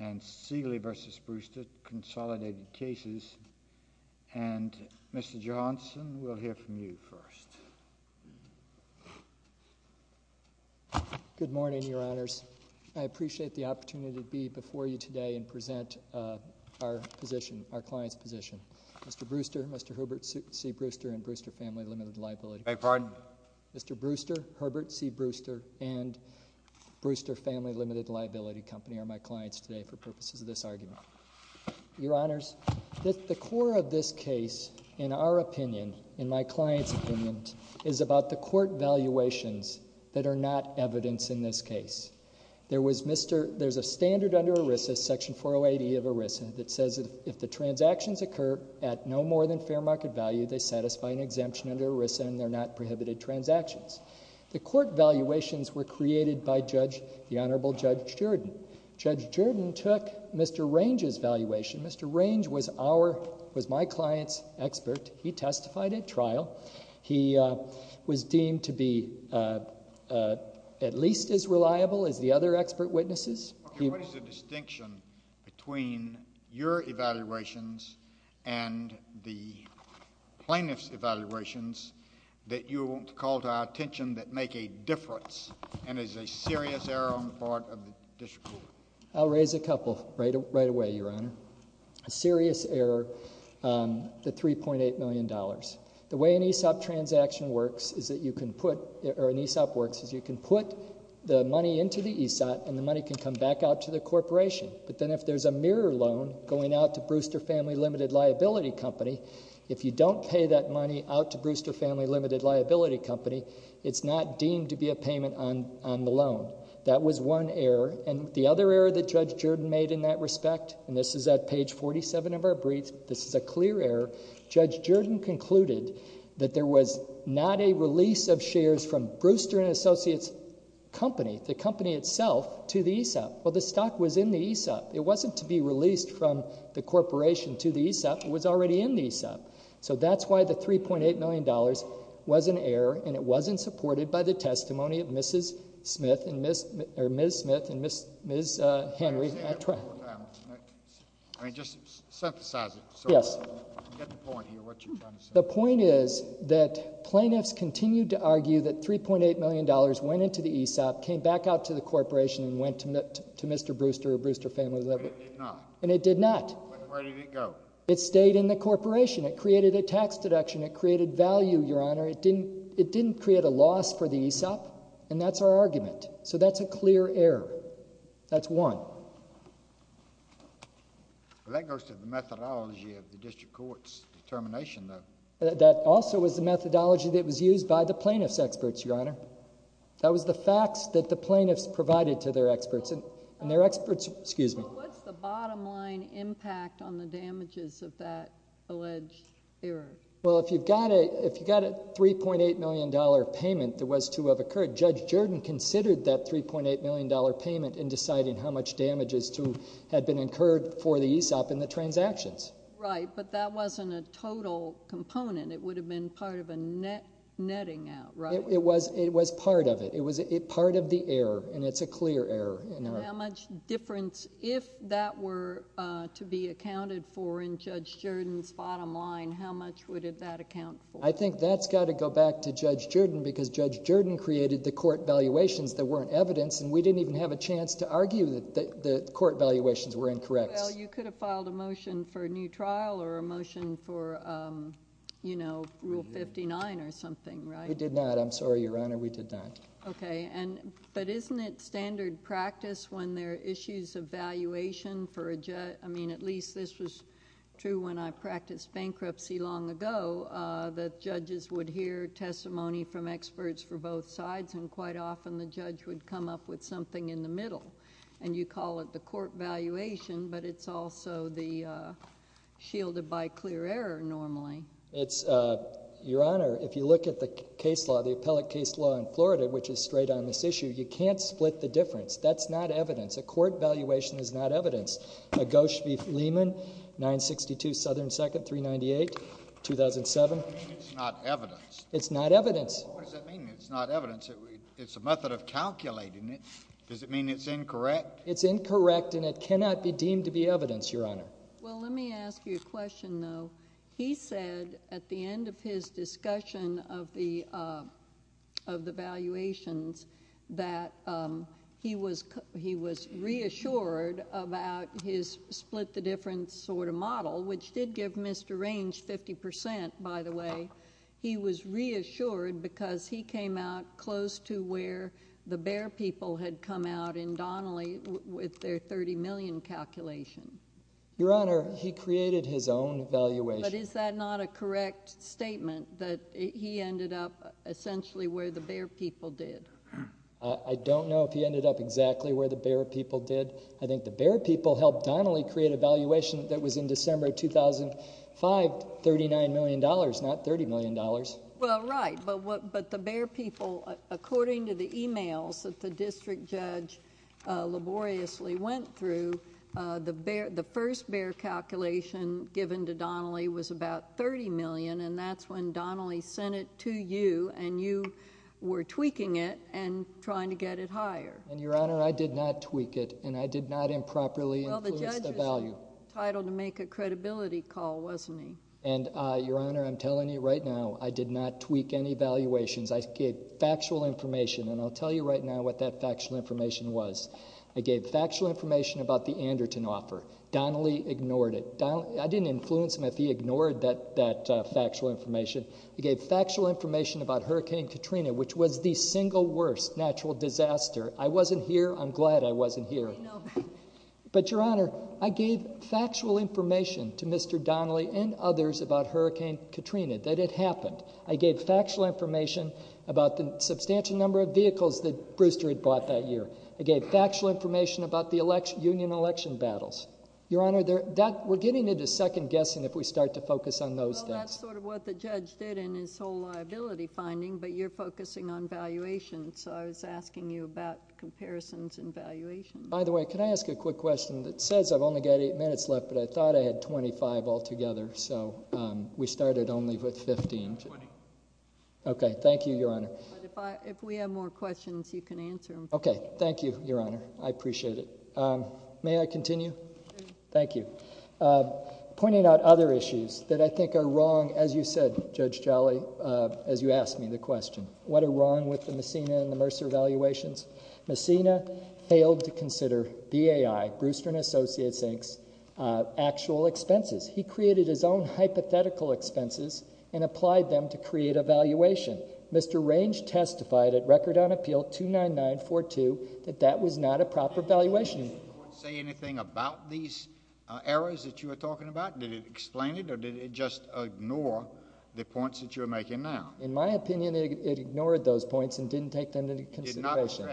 and Seeley v. Bruister, Consolidated Cases, and Mr. Johanson, we'll hear from you first. Good morning, Your Honors. I appreciate the opportunity to be before you today and present our position, our client's position. Mr. Bruister, Mr. Herbert C. Bruister, and Bruister Family Limited Liability. I beg your pardon? Mr. Bruister, Herbert C. Bruister, and Bruister Family Limited Liability Company are my clients today for purposes of this argument. Your Honors, the core of this case, in our opinion, in my client's opinion, is about the court valuations that are not evidence in this case. There's a standard under ERISA, Section 408E of ERISA, that says if the transactions occur at no more than fair market value, they satisfy an exemption under ERISA and they're not prohibited transactions. The court valuations were created by the Honorable Judge Jordan. Judge Jordan took Mr. Range's valuation. Mr. Range was my client's expert. He testified at trial. He was deemed to be at least as reliable as the other expert witnesses. What is the distinction between your evaluations and the plaintiff's evaluations that you call to our attention that make a difference and is a serious error on the part of the district court? I'll raise a couple right away, Your Honor. A serious error on the $3.8 million. The way an ESOP transaction works is that you can put the money into the ESOP and the money can come back out to the corporation. But then if there's a mirror loan going out to Brewster Family Limited Liability Company, if you don't pay that money out to Brewster Family Limited Liability Company, it's not deemed to be a payment on the loan. That was one error. And the other error that Judge Jordan made in that respect, and this is at page 47 of our brief, this is a clear error. Judge Jordan concluded that there was not a release of shares from Brewster and Associates Company, the company itself, to the ESOP. Well, the stock was in the ESOP. It wasn't to be released from the corporation to the ESOP. It was already in the ESOP. So that's why the $3.8 million was an error and it wasn't supported by the testimony of Ms. Smith and Ms. Henry at trial. I mean, just synthesize it. Yes. Get the point here, what you're trying to say. The point is that plaintiffs continued to argue that $3.8 million went into the ESOP, came back out to the corporation, and went to Mr. Brewster or Brewster Family Limited. But it did not. And it did not. Where did it go? It stayed in the corporation. It created a tax deduction. It created value, Your Honor. It didn't create a loss for the ESOP. And that's our argument. So that's a clear error. That's one. Well, that goes to the methodology of the district court's determination, though. That also was the methodology that was used by the plaintiff's experts, Your Honor. That was the facts that the plaintiffs provided to their experts. And their experts— Well, what's the bottom line impact on the damages of that alleged error? Well, if you've got a $3.8 million payment, there was to have occurred. Judge Jordan considered that $3.8 million payment in deciding how much damage had been incurred for the ESOP and the transactions. Right. But that wasn't a total component. It would have been part of a netting out, right? It was part of it. It was part of the error. And it's a clear error. How much difference, if that were to be accounted for in Judge Jordan's bottom line, how much would that account for? I think that's got to go back to Judge Jordan because Judge Jordan created the court valuations that weren't evidence, and we didn't even have a chance to argue that the court valuations were incorrect. Well, you could have filed a motion for a new trial or a motion for Rule 59 or something, right? We did not. I'm sorry, Your Honor. We did not. Okay. But isn't it standard practice when there are issues of valuation for— I mean, at least this was true when I practiced bankruptcy long ago, that judges would hear testimony from experts for both sides, and quite often the judge would come up with something in the middle. And you call it the court valuation, but it's also shielded by clear error normally. Your Honor, if you look at the case law, the appellate case law in Florida, which is straight on this issue, you can't split the difference. That's not evidence. A court valuation is not evidence. Gosch v. Lehman, 962 Southern 2nd, 398, 2007. What do you mean it's not evidence? It's not evidence. What does that mean, it's not evidence? It's a method of calculating it. Does it mean it's incorrect? It's incorrect, and it cannot be deemed to be evidence, Your Honor. Well, let me ask you a question, though. He said at the end of his discussion of the valuations that he was reassured about his split-the-difference sort of model, which did give Mr. Range 50%, by the way. He was reassured because he came out close to where the Bear people had come out in Donnelly with their $30 million calculation. Your Honor, he created his own valuation. But is that not a correct statement, that he ended up essentially where the Bear people did? I don't know if he ended up exactly where the Bear people did. I think the Bear people helped Donnelly create a valuation that was in December 2005, $39 million, not $30 million. Well, right, but the Bear people, according to the emails that the district judge laboriously went through, the first Bear calculation given to Donnelly was about $30 million, and that's when Donnelly sent it to you, and you were tweaking it and trying to get it higher. And, Your Honor, I did not tweak it, and I did not improperly influence the value. Well, the judge was entitled to make a credibility call, wasn't he? And, Your Honor, I'm telling you right now, I did not tweak any valuations. I gave factual information, and I'll tell you right now what that factual information was. I gave factual information about the Anderton offer. Donnelly ignored it. I didn't influence him if he ignored that factual information. I gave factual information about Hurricane Katrina, which was the single worst natural disaster. I wasn't here. I'm glad I wasn't here. But, Your Honor, I gave factual information to Mr. Donnelly and others about Hurricane Katrina that it happened. I gave factual information about the substantial number of vehicles that Brewster had bought that year. I gave factual information about the union election battles. Your Honor, we're getting into second guessing if we start to focus on those things. Well, that's sort of what the judge did in his whole liability finding, but you're focusing on valuations, so I was asking you about comparisons and valuations. By the way, can I ask a quick question? It says I've only got eight minutes left, but I thought I had 25 altogether, so we started only with 15. I have 20. Okay. Thank you, Your Honor. If we have more questions, you can answer them. Okay. Thank you, Your Honor. I appreciate it. May I continue? Sure. Thank you. Pointing out other issues that I think are wrong, as you said, Judge Jolly, as you asked me the question, what are wrong with the Messina and the Mercer valuations? Messina failed to consider BAI, Brewster & Associates, Inc.'s actual expenses. He created his own hypothetical expenses and applied them to create a valuation. Mr. Range testified at Record on Appeal 29942 that that was not a proper valuation. Did the court say anything about these errors that you were talking about? Did it explain it, or did it just ignore the points that you're making now? In my opinion, it ignored those points and didn't take them into consideration.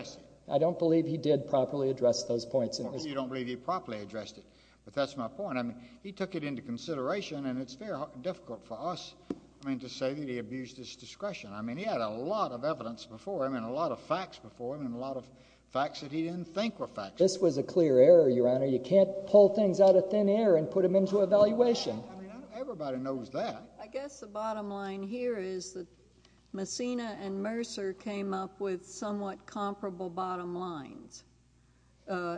I don't believe he did properly address those points. You don't believe he properly addressed it, but that's my point. I mean, he took it into consideration, and it's very difficult for us, I mean, to say that he abused his discretion. I mean, he had a lot of evidence before him and a lot of facts before him and a lot of facts that he didn't think were facts. This was a clear error, Your Honor. You can't pull things out of thin air and put them into a valuation. I mean, everybody knows that. I guess the bottom line here is that Messina and Mercer came up with somewhat comparable bottom line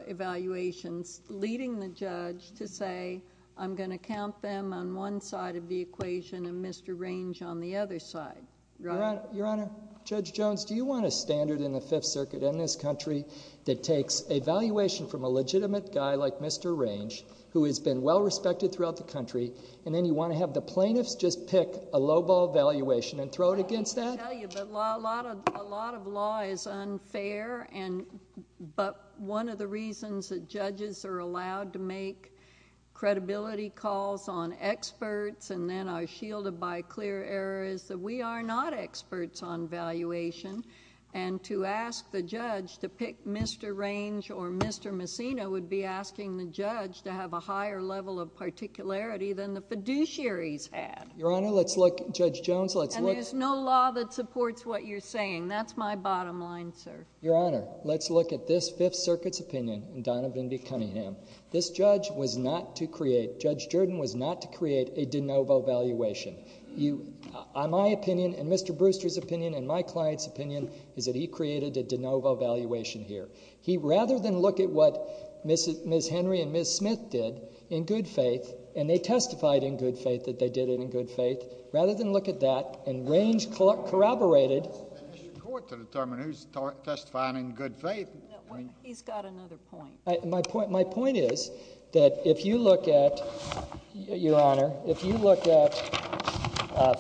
evaluations, leading the judge to say, I'm going to count them on one side of the equation and Mr. Range on the other side. Your Honor, Judge Jones, do you want a standard in the Fifth Circuit in this country that takes a valuation from a legitimate guy like Mr. Range, who has been well-respected throughout the country, and then you want to have the plaintiffs just pick a low-ball valuation and throw it against that? I hate to tell you, but a lot of law is unfair, but one of the reasons that judges are allowed to make credibility calls on experts and then are shielded by clear error is that we are not experts on valuation, and to ask the judge to pick Mr. Range or Mr. Messina would be asking the judge to have a higher level of particularity than the fiduciaries had. Your Honor, let's look—Judge Jones, let's look— And there's no law that supports what you're saying. That's my bottom line, sir. Your Honor, let's look at this Fifth Circuit's opinion in Donovan v. Cunningham. This judge was not to create—Judge Jordan was not to create a de novo valuation. My opinion and Mr. Brewster's opinion and my client's opinion is that he created a de novo valuation here. He—rather than look at what Ms. Henry and Ms. Smith did in good faith, and they testified in good faith that they did it in good faith, rather than look at that and Range corroborated— It's the court to determine who's testifying in good faith. He's got another point. My point is that if you look at—Your Honor, if you look at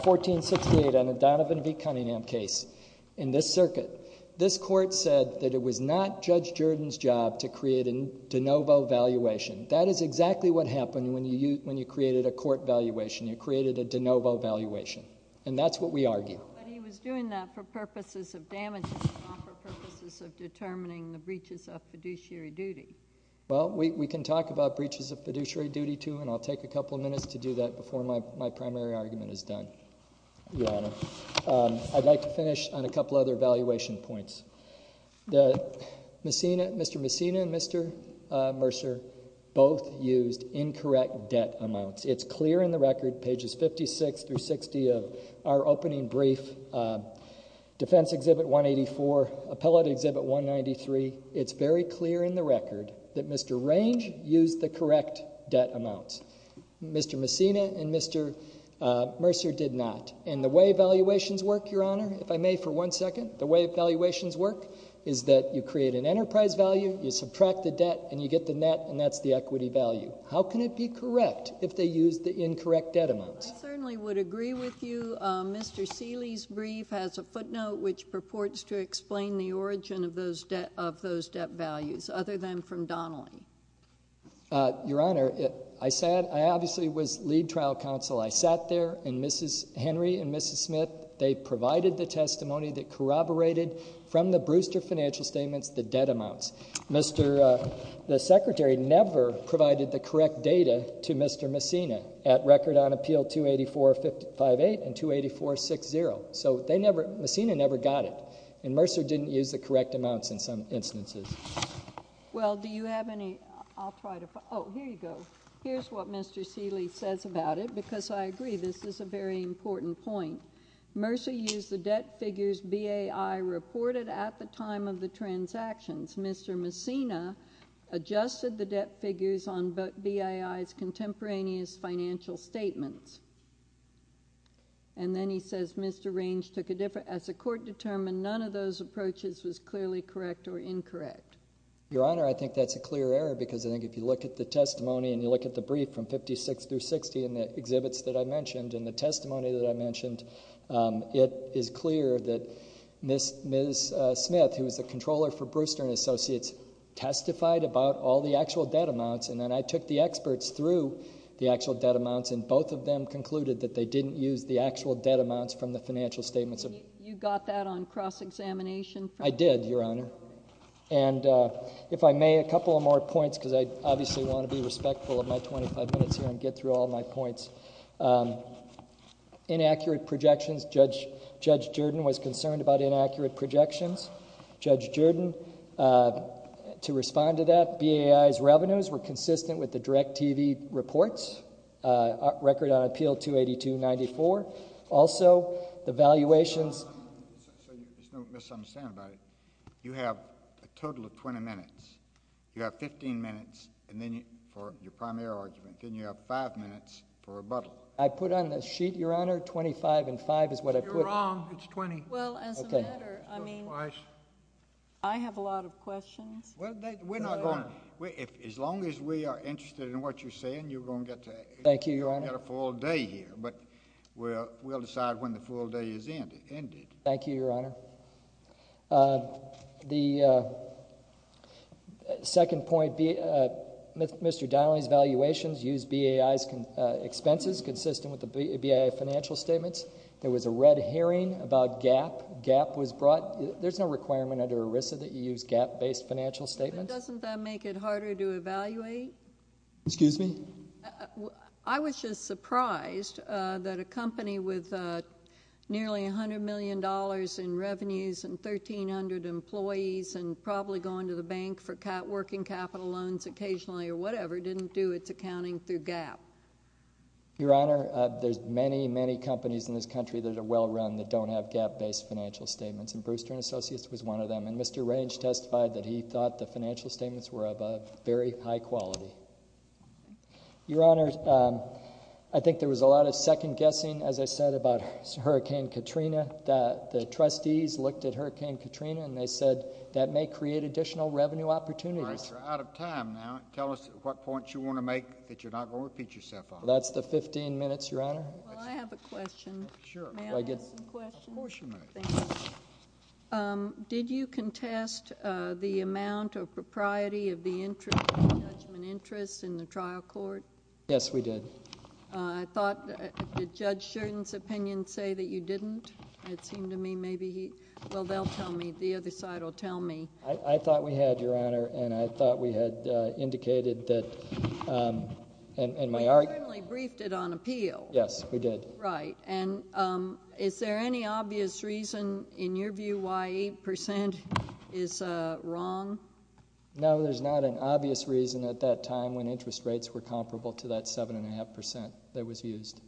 1468 on the Donovan v. Cunningham case in this circuit, this court said that it was not Judge Jordan's job to create a de novo valuation. That is exactly what happened when you created a court valuation. You created a de novo valuation, and that's what we argue. But he was doing that for purposes of damages, not for purposes of determining the breaches of fiduciary duty. Well, we can talk about breaches of fiduciary duty, too, and I'll take a couple minutes to do that before my primary argument is done, Your Honor. I'd like to finish on a couple other valuation points. Mr. Messina and Mr. Mercer both used incorrect debt amounts. It's clear in the record, pages 56 through 60 of our opening brief, Defense Exhibit 184, Appellate Exhibit 193, it's very clear in the record that Mr. Range used the correct debt amounts. Mr. Messina and Mr. Mercer did not. And the way valuations work, Your Honor, if I may for one second, the way valuations work is that you create an enterprise value, you subtract the debt, and you get the net, and that's the equity value. How can it be correct if they used the incorrect debt amounts? I certainly would agree with you. Mr. Seeley's brief has a footnote which purports to explain the origin of those debt values, other than from Donnelly. Your Honor, I obviously was lead trial counsel. I sat there, and Henry and Mrs. Smith, they provided the testimony that corroborated, from the Brewster financial statements, the debt amounts. The Secretary never provided the correct data to Mr. Messina at record on Appeal 28458 and 28460. So Messina never got it. And Mercer didn't use the correct amounts in some instances. Well, do you have any? Oh, here you go. Here's what Mr. Seeley says about it, because I agree this is a very important point. Mercer used the debt figures BAI reported at the time of the transactions. Mr. Messina adjusted the debt figures on BAI's contemporaneous financial statements. And then he says Mr. Range took a different as the court determined none of those approaches was clearly correct or incorrect. Your Honor, I think that's a clear error, because I think if you look at the testimony and you look at the brief from 56 through 60 and the exhibits that I mentioned and the testimony that I mentioned, it is clear that Ms. Smith, who was the controller for Brewster and Associates, testified about all the actual debt amounts. And then I took the experts through the actual debt amounts, and both of them concluded that they didn't use the actual debt amounts from the financial statements. You got that on cross-examination? I did, Your Honor. And if I may, a couple more points, because I obviously want to be respectful of my 25 minutes here and get through all my points. Inaccurate projections. Judge Jordan was concerned about inaccurate projections. Judge Jordan, to respond to that, BAI's revenues were consistent with the DIRECTV reports, record on appeal 282-94. Also, the valuations. There's no misunderstanding about it. You have a total of 20 minutes. You have 15 minutes for your primary argument. Then you have 5 minutes for rebuttal. I put on the sheet, Your Honor, 25 and 5 is what I put. You're wrong. It's 20. Well, as a matter, I mean, I have a lot of questions. As long as we are interested in what you're saying, you're going to get a full day here. But we'll decide when the full day is ended. Thank you, Your Honor. The second point, Mr. Donnelly's valuations used BAI's expenses consistent with the BAI financial statements. There was a red herring about GAAP. GAAP was brought. There's no requirement under ERISA that you use GAAP-based financial statements. But doesn't that make it harder to evaluate? Excuse me? I was just surprised that a company with nearly $100 million in revenues and 1,300 employees and probably going to the bank for working capital loans occasionally or whatever didn't do its accounting through GAAP. Your Honor, there's many, many companies in this country that are well run that don't have GAAP-based financial statements. And Brewster & Associates was one of them. And Mr. Range testified that he thought the financial statements were of a very high quality. Your Honor, I think there was a lot of second-guessing, as I said, about Hurricane Katrina. The trustees looked at Hurricane Katrina, and they said that may create additional revenue opportunities. All right. You're out of time now. Tell us what points you want to make that you're not going to repeat yourself on. That's the 15 minutes, Your Honor. Well, I have a question. Sure. May I ask a question? Of course you may. Thank you. Did you contest the amount of propriety of the judgment interest in the trial court? Yes, we did. Did Judge Sheridan's opinion say that you didn't? It seemed to me maybe he – well, they'll tell me. The other side will tell me. I thought we had, Your Honor, and I thought we had indicated that – We certainly briefed it on appeal. Yes, we did. Right. And is there any obvious reason, in your view, why 8% is wrong? No, there's not an obvious reason at that time when interest rates were comparable to that 7.5% that was used.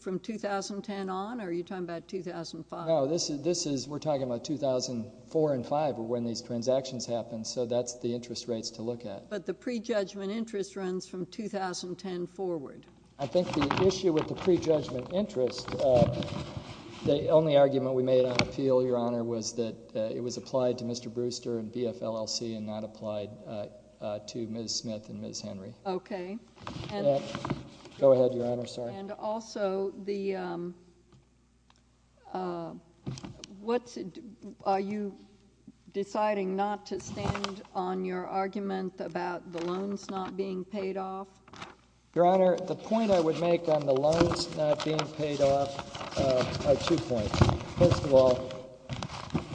From 2010 on, or are you talking about 2005? No, this is – we're talking about 2004 and 2005 were when these transactions happened, so that's the interest rates to look at. But the prejudgment interest runs from 2010 forward. I think the issue with the prejudgment interest, the only argument we made on appeal, Your Honor, was that it was applied to Mr. Brewster and BFLLC and not applied to Ms. Smith and Ms. Henry. Okay. Go ahead, Your Honor. And also, are you deciding not to stand on your argument about the loans not being paid off? Your Honor, the point I would make on the loans not being paid off are two points. First of all,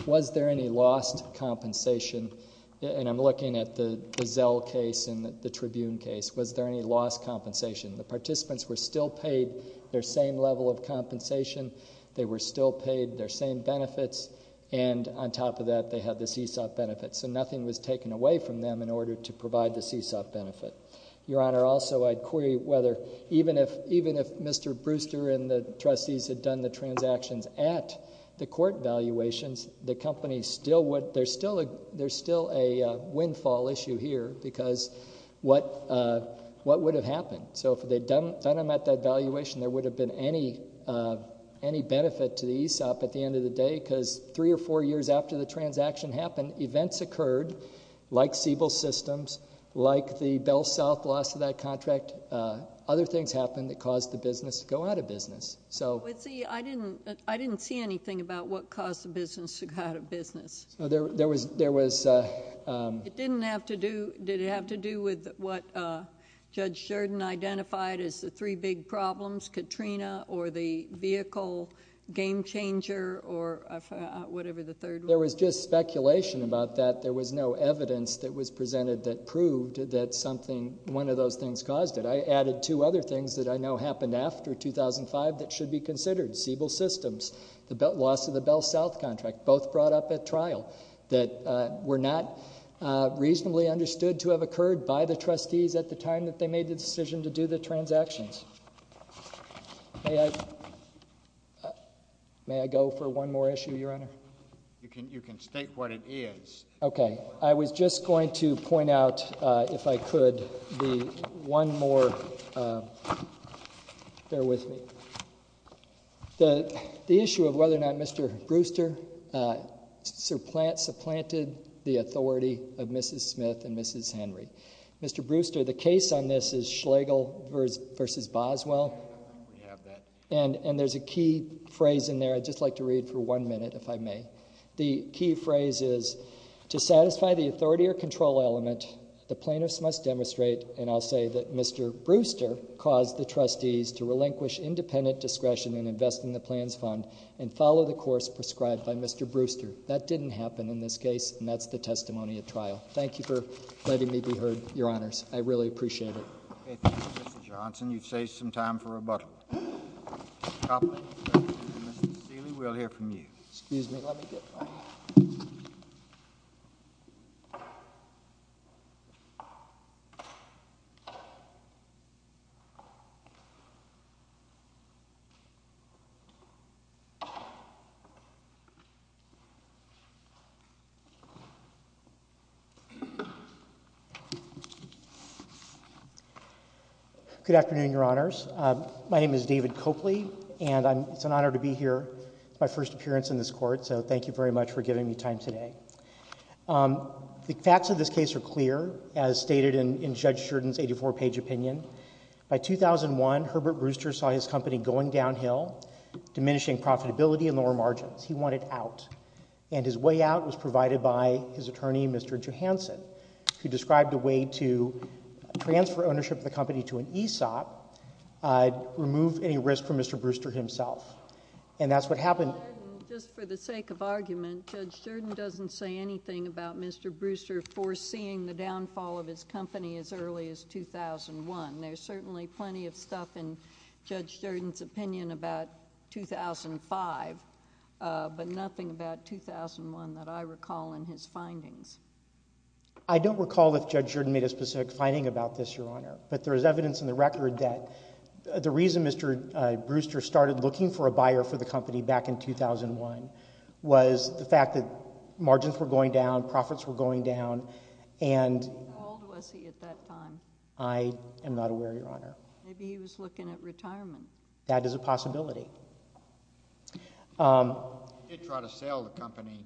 was there any lost compensation? And I'm looking at the Zell case and the Tribune case. Was there any lost compensation? The participants were still paid their same level of compensation. They were still paid their same benefits. And on top of that, they had the CSOP benefits. So nothing was taken away from them in order to provide the CSOP benefit. Your Honor, also I'd query whether even if Mr. Brewster and the trustees had done the transactions at the court valuations, there's still a windfall issue here because what would have happened? So if they'd done them at that valuation, there would have been any benefit to the ESOP at the end of the day because three or four years after the transaction happened, events occurred like Siebel Systems, like the Bell South loss of that contract. Other things happened that caused the business to go out of business. But, see, I didn't see anything about what caused the business to go out of business. So there was – It didn't have to do – did it have to do with what Judge Sheridan identified as the three big problems, Katrina, or the vehicle game changer, or whatever the third one was? There was just speculation about that. There was no evidence that was presented that proved that something – one of those things caused it. I added two other things that I know happened after 2005 that should be considered, Siebel Systems, the loss of the Bell South contract, both brought up at trial, that were not reasonably understood to have occurred by the trustees at the time that they made the decision to do the transactions. May I go for one more issue, Your Honor? You can state what it is. Okay. I was just going to point out, if I could, the one more – bear with me. The issue of whether or not Mr. Brewster supplanted the authority of Mrs. Smith and Mrs. Henry. Mr. Brewster, the case on this is Schlegel v. Boswell. We have that. And there's a key phrase in there I'd just like to read for one minute, if I may. The key phrase is, To satisfy the authority or control element, the plaintiffs must demonstrate, and I'll say that Mr. Brewster caused the trustees to relinquish independent discretion in investing the plans fund and follow the course prescribed by Mr. Brewster. Thank you for letting me be heard, Your Honors. I really appreciate it. Okay. Thank you, Mr. Johnson. You've saved some time for rebuttal. Mr. Copeland, Mr. Sealy, we'll hear from you. Excuse me. Let me get my – Good afternoon, Your Honors. My name is David Copley, and it's an honor to be here. It's my first appearance in this court, so thank you very much for giving me time today. The facts of this case are clear, as stated in Judge Sheridan's 84-page opinion. By 2001, Herbert Brewster saw his company going downhill, diminishing profitability and lower margins. He wanted out. And his way out was provided by his attorney, Mr. Johanson, who described a way to transfer ownership of the company to an ESOP, remove any risk for Mr. Brewster himself. And that's what happened. Just for the sake of argument, Judge Sheridan doesn't say anything about Mr. Brewster foreseeing the downfall of his company as early as 2001. There's certainly plenty of stuff in Judge Sheridan's opinion about 2005, but nothing about 2001 that I recall in his findings. I don't recall if Judge Sheridan made a specific finding about this, Your Honor. But there is evidence in the record that the reason Mr. Brewster started looking for a buyer for the company back in 2001 was the fact that margins were going down, profits were going down, and – How old was he at that time? I am not aware, Your Honor. Maybe he was looking at retirement. That is a possibility. He did try to sell the company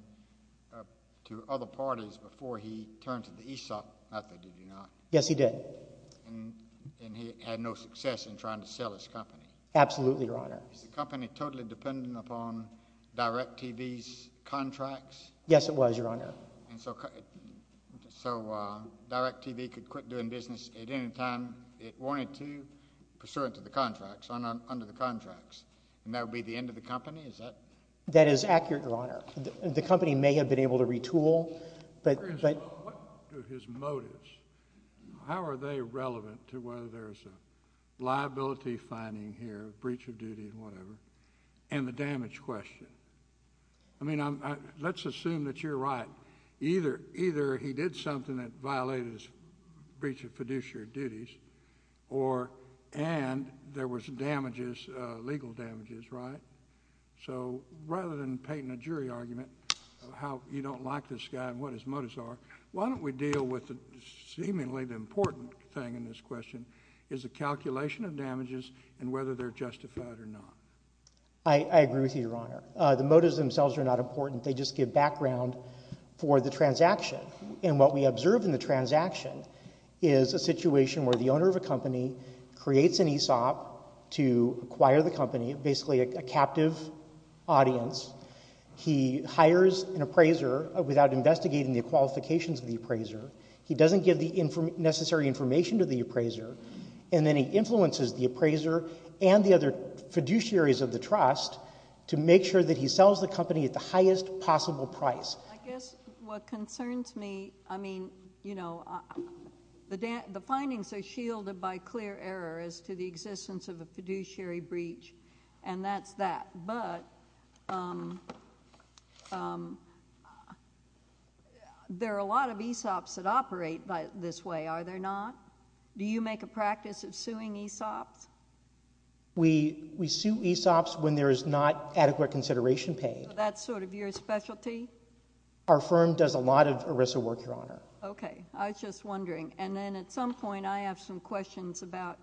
to other parties before he turned to the ESOP method, did he not? Yes, he did. And he had no success in trying to sell his company? Absolutely, Your Honor. Was the company totally dependent upon DirecTV's contracts? Yes, it was, Your Honor. So DirecTV could quit doing business at any time it wanted to pursuant to the contracts, under the contracts, and that would be the end of the company? That is accurate, Your Honor. The company may have been able to retool, but – What are his motives? How are they relevant to whether there's a liability finding here, breach of duty, whatever, and the damage question? I mean, let's assume that you're right. Either he did something that violated his breach of fiduciary duties, and there was damages, legal damages, right? So rather than painting a jury argument of how you don't like this guy and what his motives are, why don't we deal with seemingly the important thing in this question, is the calculation of damages and whether they're justified or not. I agree with you, Your Honor. The motives themselves are not important. They just give background for the transaction, and what we observe in the transaction is a situation where the owner of a company creates an ESOP to acquire the company, basically a captive audience. He hires an appraiser without investigating the qualifications of the appraiser. He doesn't give the necessary information to the appraiser, and then he influences the appraiser and the other fiduciaries of the trust to make sure that he sells the company at the highest possible price. I guess what concerns me, I mean, you know, the findings are shielded by clear error as to the existence of a fiduciary breach, and that's that. But there are a lot of ESOPs that operate this way, are there not? Do you make a practice of suing ESOPs? We sue ESOPs when there is not adequate consideration paid. That's sort of your specialty? Our firm does a lot of ERISA work, Your Honor. Okay. I was just wondering, and then at some point I have some questions about...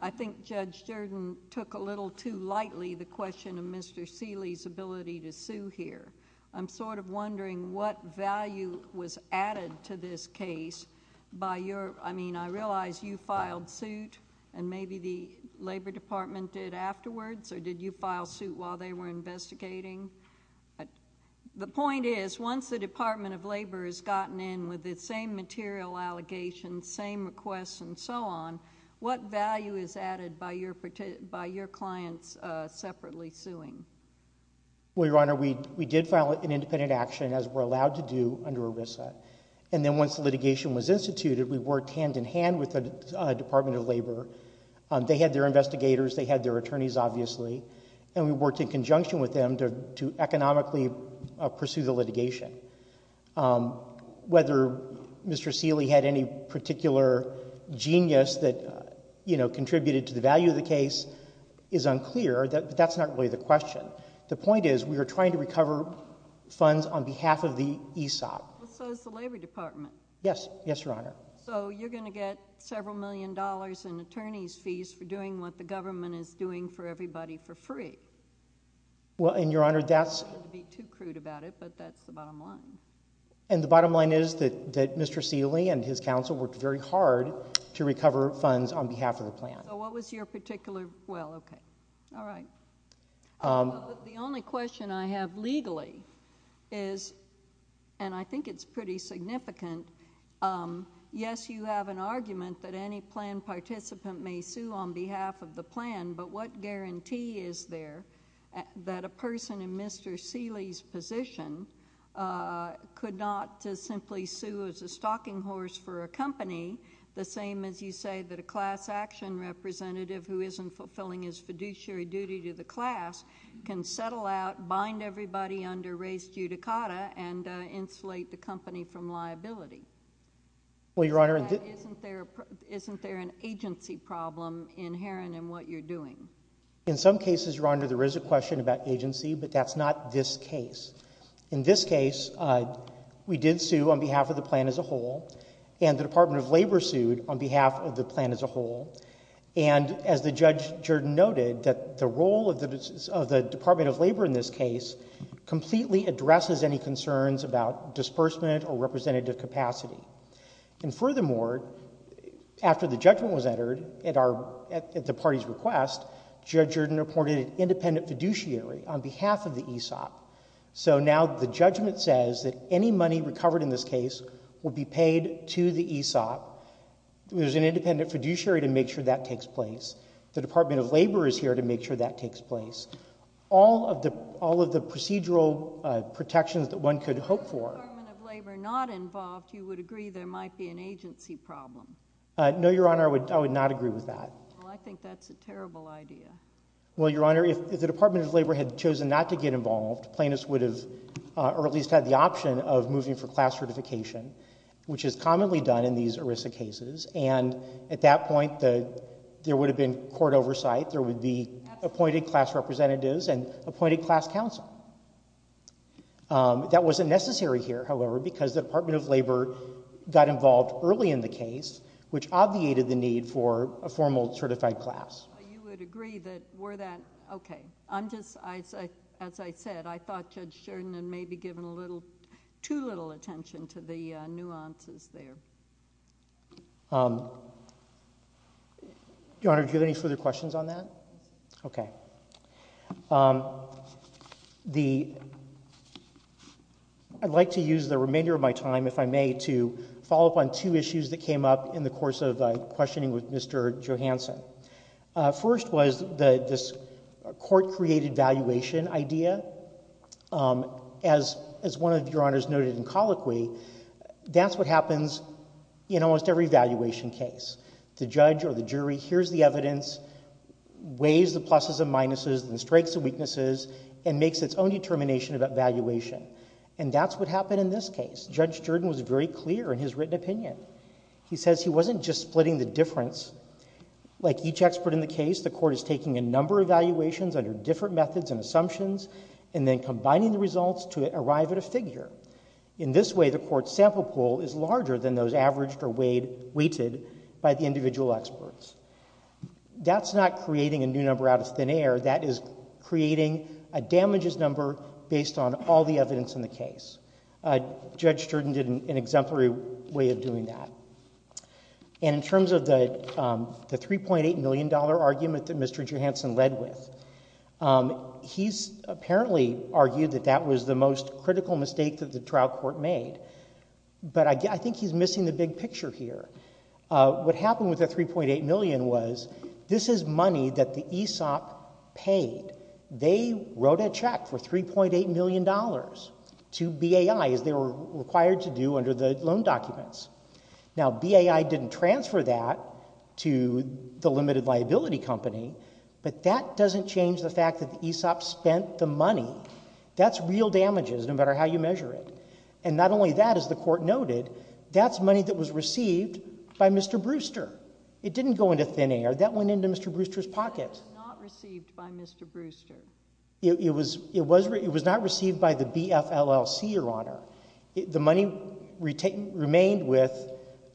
I think Judge Durden took a little too lightly the question of Mr. Seeley's ability to sue here. I'm sort of wondering what value was added to this case by your... I mean, I realize you filed suit, and maybe the Labor Department did afterwards, or did you file suit while they were investigating? The point is, once the Department of Labor has gotten in with the same material allegations, same requests, and so on, what value is added by your clients separately suing? Well, Your Honor, we did file an independent action, as we're allowed to do, under ERISA. And then once the litigation was instituted, we worked hand-in-hand with the Department of Labor. They had their investigators. They had their attorneys, obviously. And we worked in conjunction with them to economically pursue the litigation. Whether Mr. Seeley had any particular genius that contributed to the value of the case is unclear, but that's not really the question. The point is, we are trying to recover funds on behalf of the ESOP. Well, so is the Labor Department. Yes. Yes, Your Honor. So you're going to get several million dollars in attorney's fees for doing what the government is doing for everybody for free. Well, and Your Honor, that's... I don't want to be too crude about it, but that's the bottom line. And the bottom line is that Mr. Seeley and his counsel worked very hard to recover funds on behalf of the plan. So what was your particular... well, okay. All right. The only question I have legally is, and I think it's pretty significant, yes, you have an argument that any plan participant may sue on behalf of the plan, but what guarantee is there that a person in Mr. Seeley's position could not simply sue as a stalking horse for a company, the same as you say that a class action representative who isn't fulfilling his fiduciary duty to the class can settle out, bind everybody under res judicata, and insulate the company from liability? Well, Your Honor... Isn't there an agency problem inherent in what you're doing? In some cases, Your Honor, there is a question about agency, but that's not this case. In this case, we did sue on behalf of the plan as a whole, and the Department of Labor sued on behalf of the plan as a whole, and as Judge Jordan noted, the role of the Department of Labor in this case completely addresses any concerns about disbursement or representative capacity. And furthermore, after the judgment was entered at the party's request, Judge Jordan appointed an independent fiduciary on behalf of the ESOP. So now the judgment says that any money recovered in this case will be paid to the ESOP. There's an independent fiduciary to make sure that takes place. The Department of Labor is here to make sure that takes place. All of the procedural protections that one could hope for... If the Department of Labor is not involved, you would agree there might be an agency problem? No, Your Honor, I would not agree with that. Well, I think that's a terrible idea. Well, Your Honor, if the Department of Labor had chosen not to get involved, plaintiffs would have at least had the option of moving for class certification, which is commonly done in these ERISA cases, and at that point there would have been court oversight. There would be appointed class representatives and appointed class counsel. That wasn't necessary here, however, because the Department of Labor got involved early in the case, which obviated the need for a formal certified class. Well, you would agree that were that... Okay. I'm just... As I said, I thought Judge Sheridan had maybe given a little... too little attention to the nuances there. Your Honor, do you have any further questions on that? Okay. I'd like to use the remainder of my time, if I may, to follow up on two issues that came up in the course of questioning with Mr. Johanson. First was this court-created valuation idea. As one of Your Honors noted in colloquy, that's what happens in almost every valuation case. The judge or the jury hears the evidence, weighs the pluses and minuses and the strengths and weaknesses, and makes its own determination about valuation, and that's what happened in this case. Judge Sheridan was very clear in his written opinion. He says he wasn't just splitting the difference. Like each expert in the case, the court is taking a number of evaluations under different methods and assumptions, and then combining the results to arrive at a figure. In this way, the court's sample pool is larger than those averaged or weighted by the individual experts. That's not creating a new number out of thin air. That is creating a damages number based on all the evidence in the case. Judge Sheridan did an exemplary way of doing that. And in terms of the $3.8 million argument that Mr. Johanson led with, he's apparently argued that that was the most critical mistake that the trial court made. But I think he's missing the big picture here. What happened with the $3.8 million was this is money that the ESOP paid. They wrote a check for $3.8 million to BAI, as they were required to do under the loan documents. Now, BAI didn't transfer that to the limited liability company, but that doesn't change the fact that the ESOP spent the money. That's real damages, no matter how you measure it. And not only that, as the court noted, that's money that was received by Mr. Brewster. It didn't go into thin air. That went into Mr. Brewster's pocket. It was not received by Mr. Brewster. It was not received by the BFLLC, Your Honor. The money remained with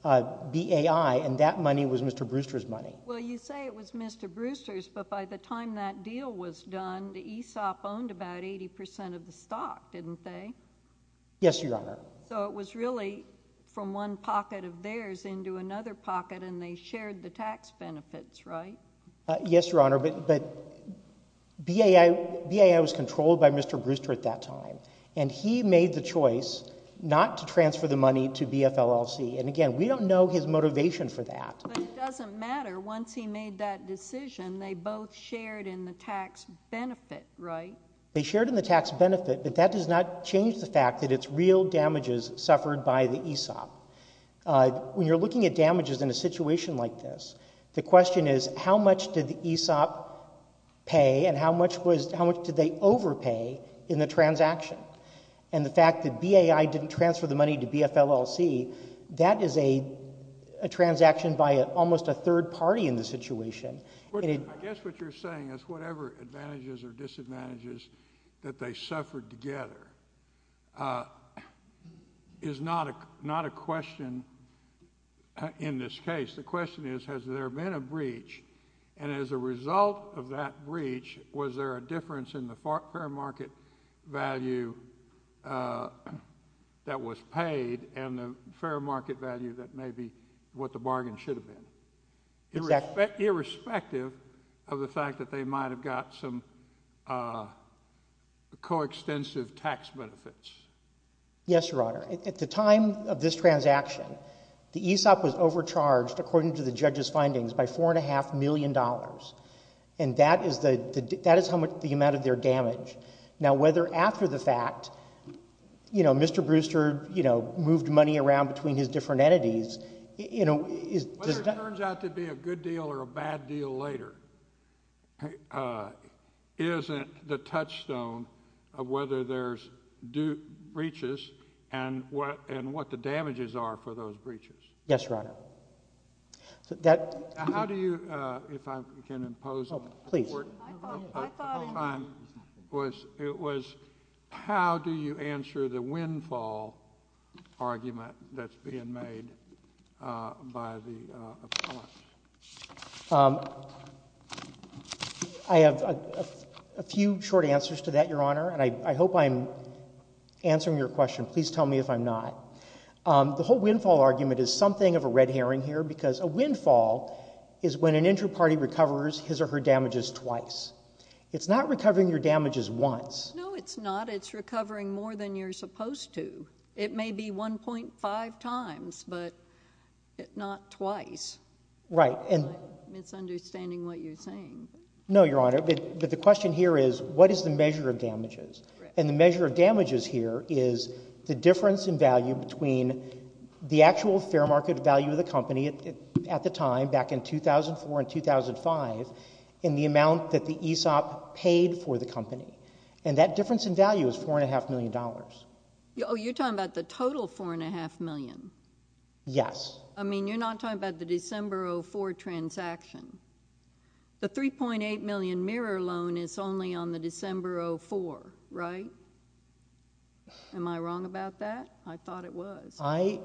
BAI, and that money was Mr. Brewster's money. Well, you say it was Mr. Brewster's, but by the time that deal was done, the ESOP owned about 80 percent of the stock, didn't they? Yes, Your Honor. So it was really from one pocket of theirs into another pocket, and they shared the tax benefits, right? Yes, Your Honor, but BAI was controlled by Mr. Brewster at that time, and he made the choice not to transfer the money to BFLLC. And, again, we don't know his motivation for that. But it doesn't matter. Once he made that decision, they both shared in the tax benefit, right? They shared in the tax benefit, but that does not change the fact that it's real damages suffered by the ESOP. When you're looking at damages in a situation like this, the question is how much did the ESOP pay and how much did they overpay in the transaction? And the fact that BAI didn't transfer the money to BFLLC, that is a transaction by almost a third party in the situation. I guess what you're saying is whatever advantages or disadvantages that they suffered together is not a question in this case. The question is has there been a breach, and as a result of that breach, was there a difference in the fair market value that was paid and the fair market value that may be what the bargain should have been? Exactly. Irrespective of the fact that they might have got some coextensive tax benefits. Yes, Your Honor. At the time of this transaction, the ESOP was overcharged, according to the judge's findings, by $4.5 million, and that is how much the amount of their damage. Now, whether after the fact, you know, Mr. Brewster, you know, moved money around between his different entities, you know, is— Whether it turns out to be a good deal or a bad deal later isn't the touchstone of whether there's breaches and what the damages are for those breaches. Yes, Your Honor. That— How do you—if I can impose on— Oh, please. I thought it was— How do you answer the windfall argument that's being made by the appellants? I have a few short answers to that, Your Honor, and I hope I'm answering your question. Please tell me if I'm not. The whole windfall argument is something of a red herring here because a windfall is when an injured party recovers his or her damages twice. It's not recovering your damages once. No, it's not. It's recovering more than you're supposed to. It may be 1.5 times, but not twice. Right, and— I'm misunderstanding what you're saying. No, Your Honor, but the question here is what is the measure of damages? And the measure of damages here is the difference in value between the actual fair market value of the company at the time, back in 2004 and 2005, and the amount that the ESOP paid for the company. And that difference in value is $4.5 million. Oh, you're talking about the total $4.5 million? Yes. I mean, you're not talking about the December 2004 transaction. The $3.8 million mirror loan is only on the December 2004, right? Am I wrong about that? I thought it was. I—I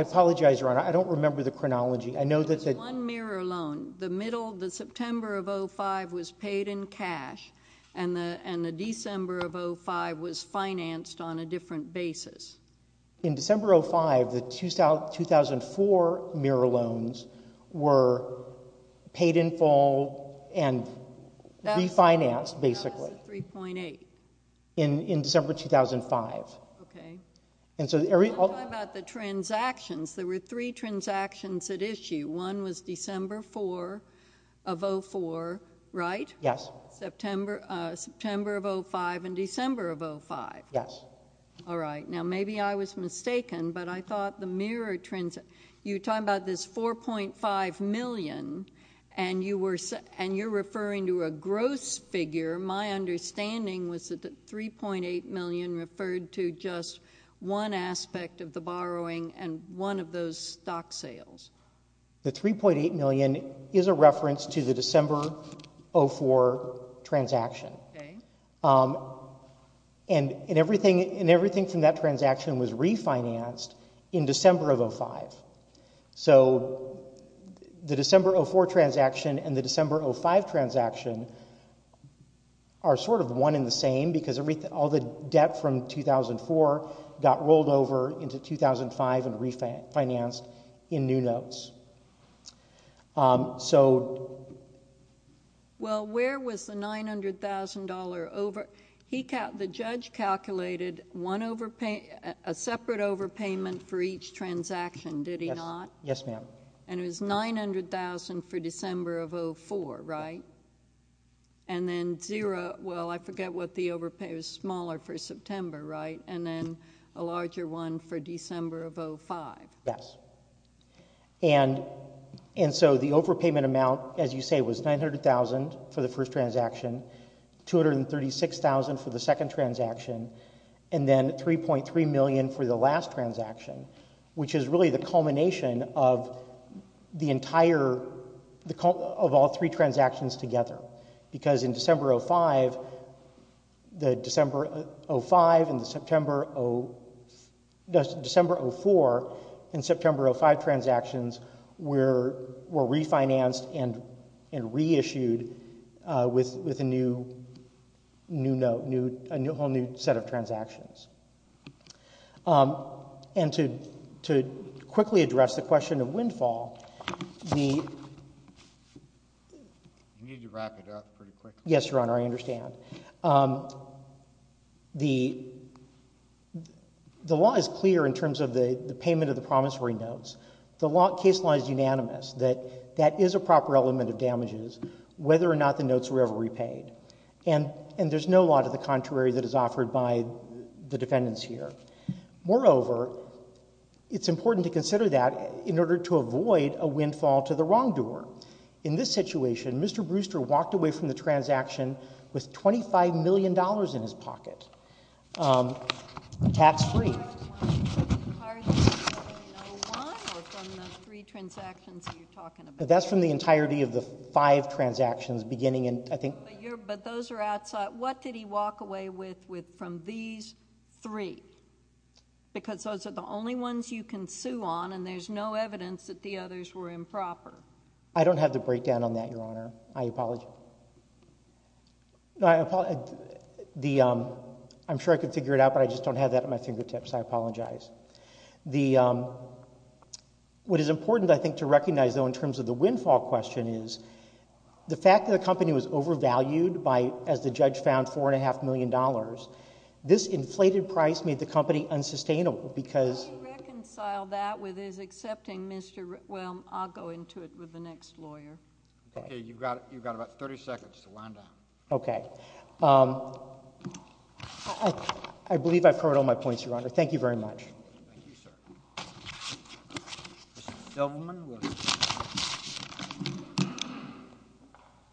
apologize, Your Honor. I don't remember the chronology. I know that the— There was one mirror loan. The middle—the September of 2005 was paid in cash, and the December of 2005 was financed on a different basis. In December 2005, the 2004 mirror loans were paid in full and refinanced, basically. That was the $3.8 million. In December 2005. Okay. And so— I'm talking about the transactions. There were three transactions at issue. One was December 4 of 2004, right? Yes. September of 2005 and December of 2005. Yes. All right. Now, maybe I was mistaken, but I thought the mirror—you're talking about this $4.5 million, and you were—and you're referring to a gross figure. My understanding was that the $3.8 million referred to just one aspect of the borrowing and one of those stock sales. The $3.8 million is a reference to the December 2004 transaction. Okay. And everything from that transaction was refinanced in December of 2005. So the December 2004 transaction and the December 2005 transaction are sort of one and the same because all the debt from 2004 got rolled over into 2005 and refinanced in new notes. So— Well, where was the $900,000 over—the judge calculated a separate overpayment for each transaction, did he not? Yes, ma'am. And it was $900,000 for December of 2004, right? And then zero—well, I forget what the overpayment—it was smaller for September, right? And then a larger one for December of 2005. Yes. And so the overpayment amount, as you say, was $900,000 for the first transaction, $236,000 for the second transaction, and then $3.3 million for the last transaction, which is really the culmination of the entire—of all three transactions together because in December 2005—the December 2005 and the September— December 2004 and September 2005 transactions were refinanced and reissued with a new note, a whole new set of transactions. And to quickly address the question of windfall, the— You need to wrap it up pretty quickly. Yes, Your Honor, I understand. The law is clear in terms of the payment of the promissory notes. The case law is unanimous that that is a proper element of damages whether or not the notes were ever repaid. And there's no law to the contrary that is offered by the defendants here. Moreover, it's important to consider that in order to avoid a windfall to the wrongdoer. In this situation, Mr. Brewster walked away from the transaction with $25 million in his pocket tax-free. That's from the entirety of the one or from the three transactions that you're talking about? That's from the entirety of the five transactions beginning in, I think— But those are outside—what did he walk away with from these three? Because those are the only ones you can sue on, and there's no evidence that the others were improper. I don't have the breakdown on that, Your Honor. I apologize. No, I apologize. The—I'm sure I could figure it out, but I just don't have that at my fingertips. I apologize. The—what is important, I think, to recognize, though, in terms of the windfall question is the fact that the company was overvalued by, as the judge found, $4.5 million. This inflated price made the company unsustainable because— Can you reconcile that with his accepting Mr.—well, I'll go into it with the next lawyer. Okay, you've got about 30 seconds to wind down. Okay. I believe I've heard all my points, Your Honor. Thank you very much. Thank you, sir. Mr. Delberman will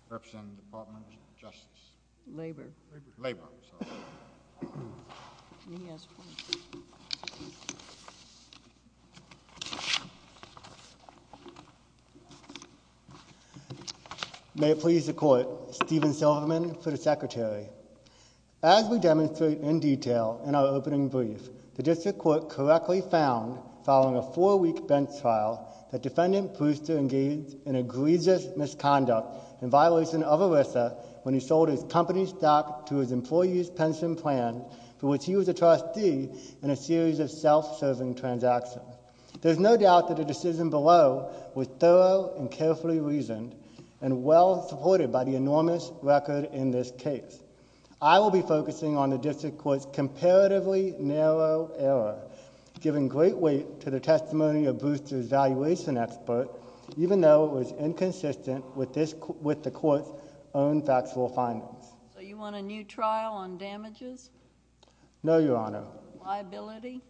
represent the Department of Justice. Labor. Labor, I'm sorry. And he has points. May it please the Court, Stephen Silverman for the Secretary. As we demonstrate in detail in our opening brief, the district court correctly found, following a four-week bench trial, that Defendant Brewster engaged in egregious misconduct in violation of ERISA when he sold his company stock to his employee's pension plan, for which he was a trustee in a series of self-serving transactions. There's no doubt that the decision below was thorough and carefully reasoned and well supported by the enormous record in this case. I will be focusing on the district court's comparatively narrow error, giving great weight to the testimony of Brewster's valuation expert, even though it was inconsistent with the court's own factual findings. So you want a new trial on damages? No, Your Honor. Liability?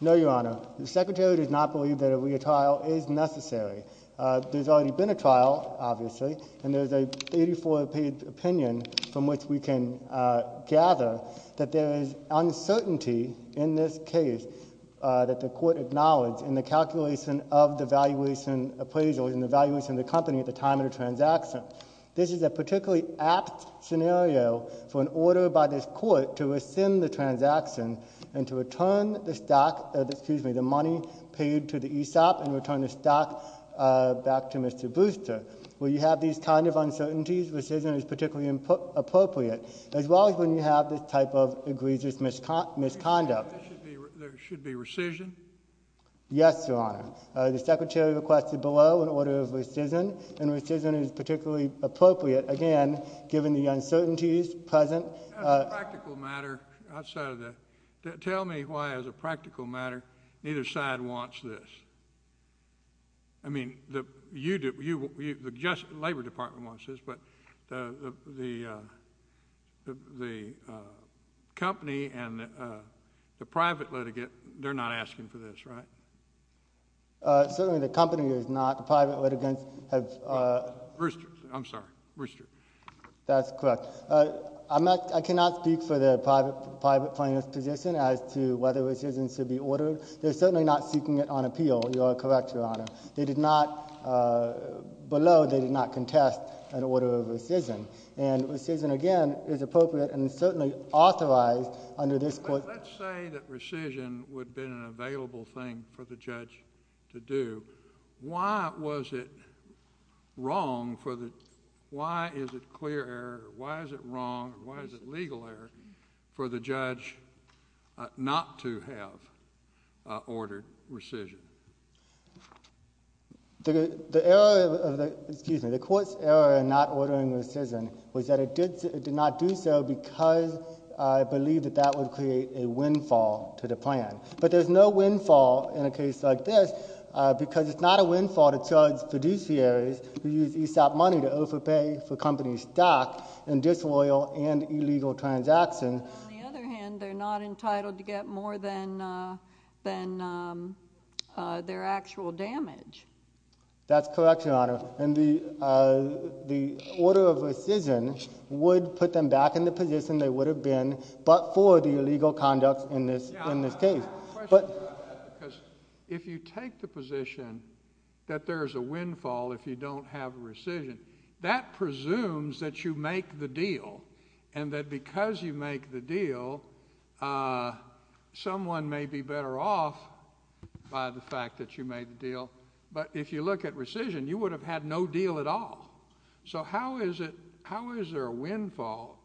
No, Your Honor. The Secretary does not believe that a retrial is necessary. There's already been a trial, obviously, and there's a 34-page opinion from which we can gather that there is uncertainty in this case that the court acknowledged in the calculation of the valuation appraisal and the valuation of the company at the time of the transaction. This is a particularly apt scenario for an order by this court to rescind the transaction and to return the money paid to the ESOP and return the stock back to Mr. Brewster. Where you have these kinds of uncertainties, rescission is particularly appropriate, as well as when you have this type of egregious misconduct. There should be rescission? Yes, Your Honor. The Secretary requested below an order of rescission, and rescission is particularly appropriate, again, given the uncertainties present. Tell me why, as a practical matter, neither side wants this. I mean, the Labor Department wants this, but the company and the private litigant, they're not asking for this, right? Certainly the company is not. The private litigants have— Brewster. I'm sorry. Brewster. That's correct. I cannot speak for the private plaintiff's position as to whether rescissions should be ordered. They're certainly not seeking it on appeal. You are correct, Your Honor. They did not—below, they did not contest an order of rescission, and rescission, again, is appropriate and certainly authorized under this court. Let's say that rescission would have been an available thing for the judge to do. Why was it wrong for the—why is it clear error? The error of the—excuse me. The court's error in not ordering rescission was that it did not do so because it believed that that would create a windfall to the plan. But there's no windfall in a case like this because it's not a windfall to charge fiduciaries who use ESOP money to overpay for companies' stock in disloyal and illegal transactions. On the other hand, they're not entitled to get more than their actual damage. That's correct, Your Honor. And the order of rescission would put them back in the position they would have been but for the illegal conduct in this case. I have a question about that because if you take the position that there's a windfall if you don't have rescission, that presumes that you make the deal and that because you make the deal, someone may be better off by the fact that you made the deal. But if you look at rescission, you would have had no deal at all. So how is there a windfall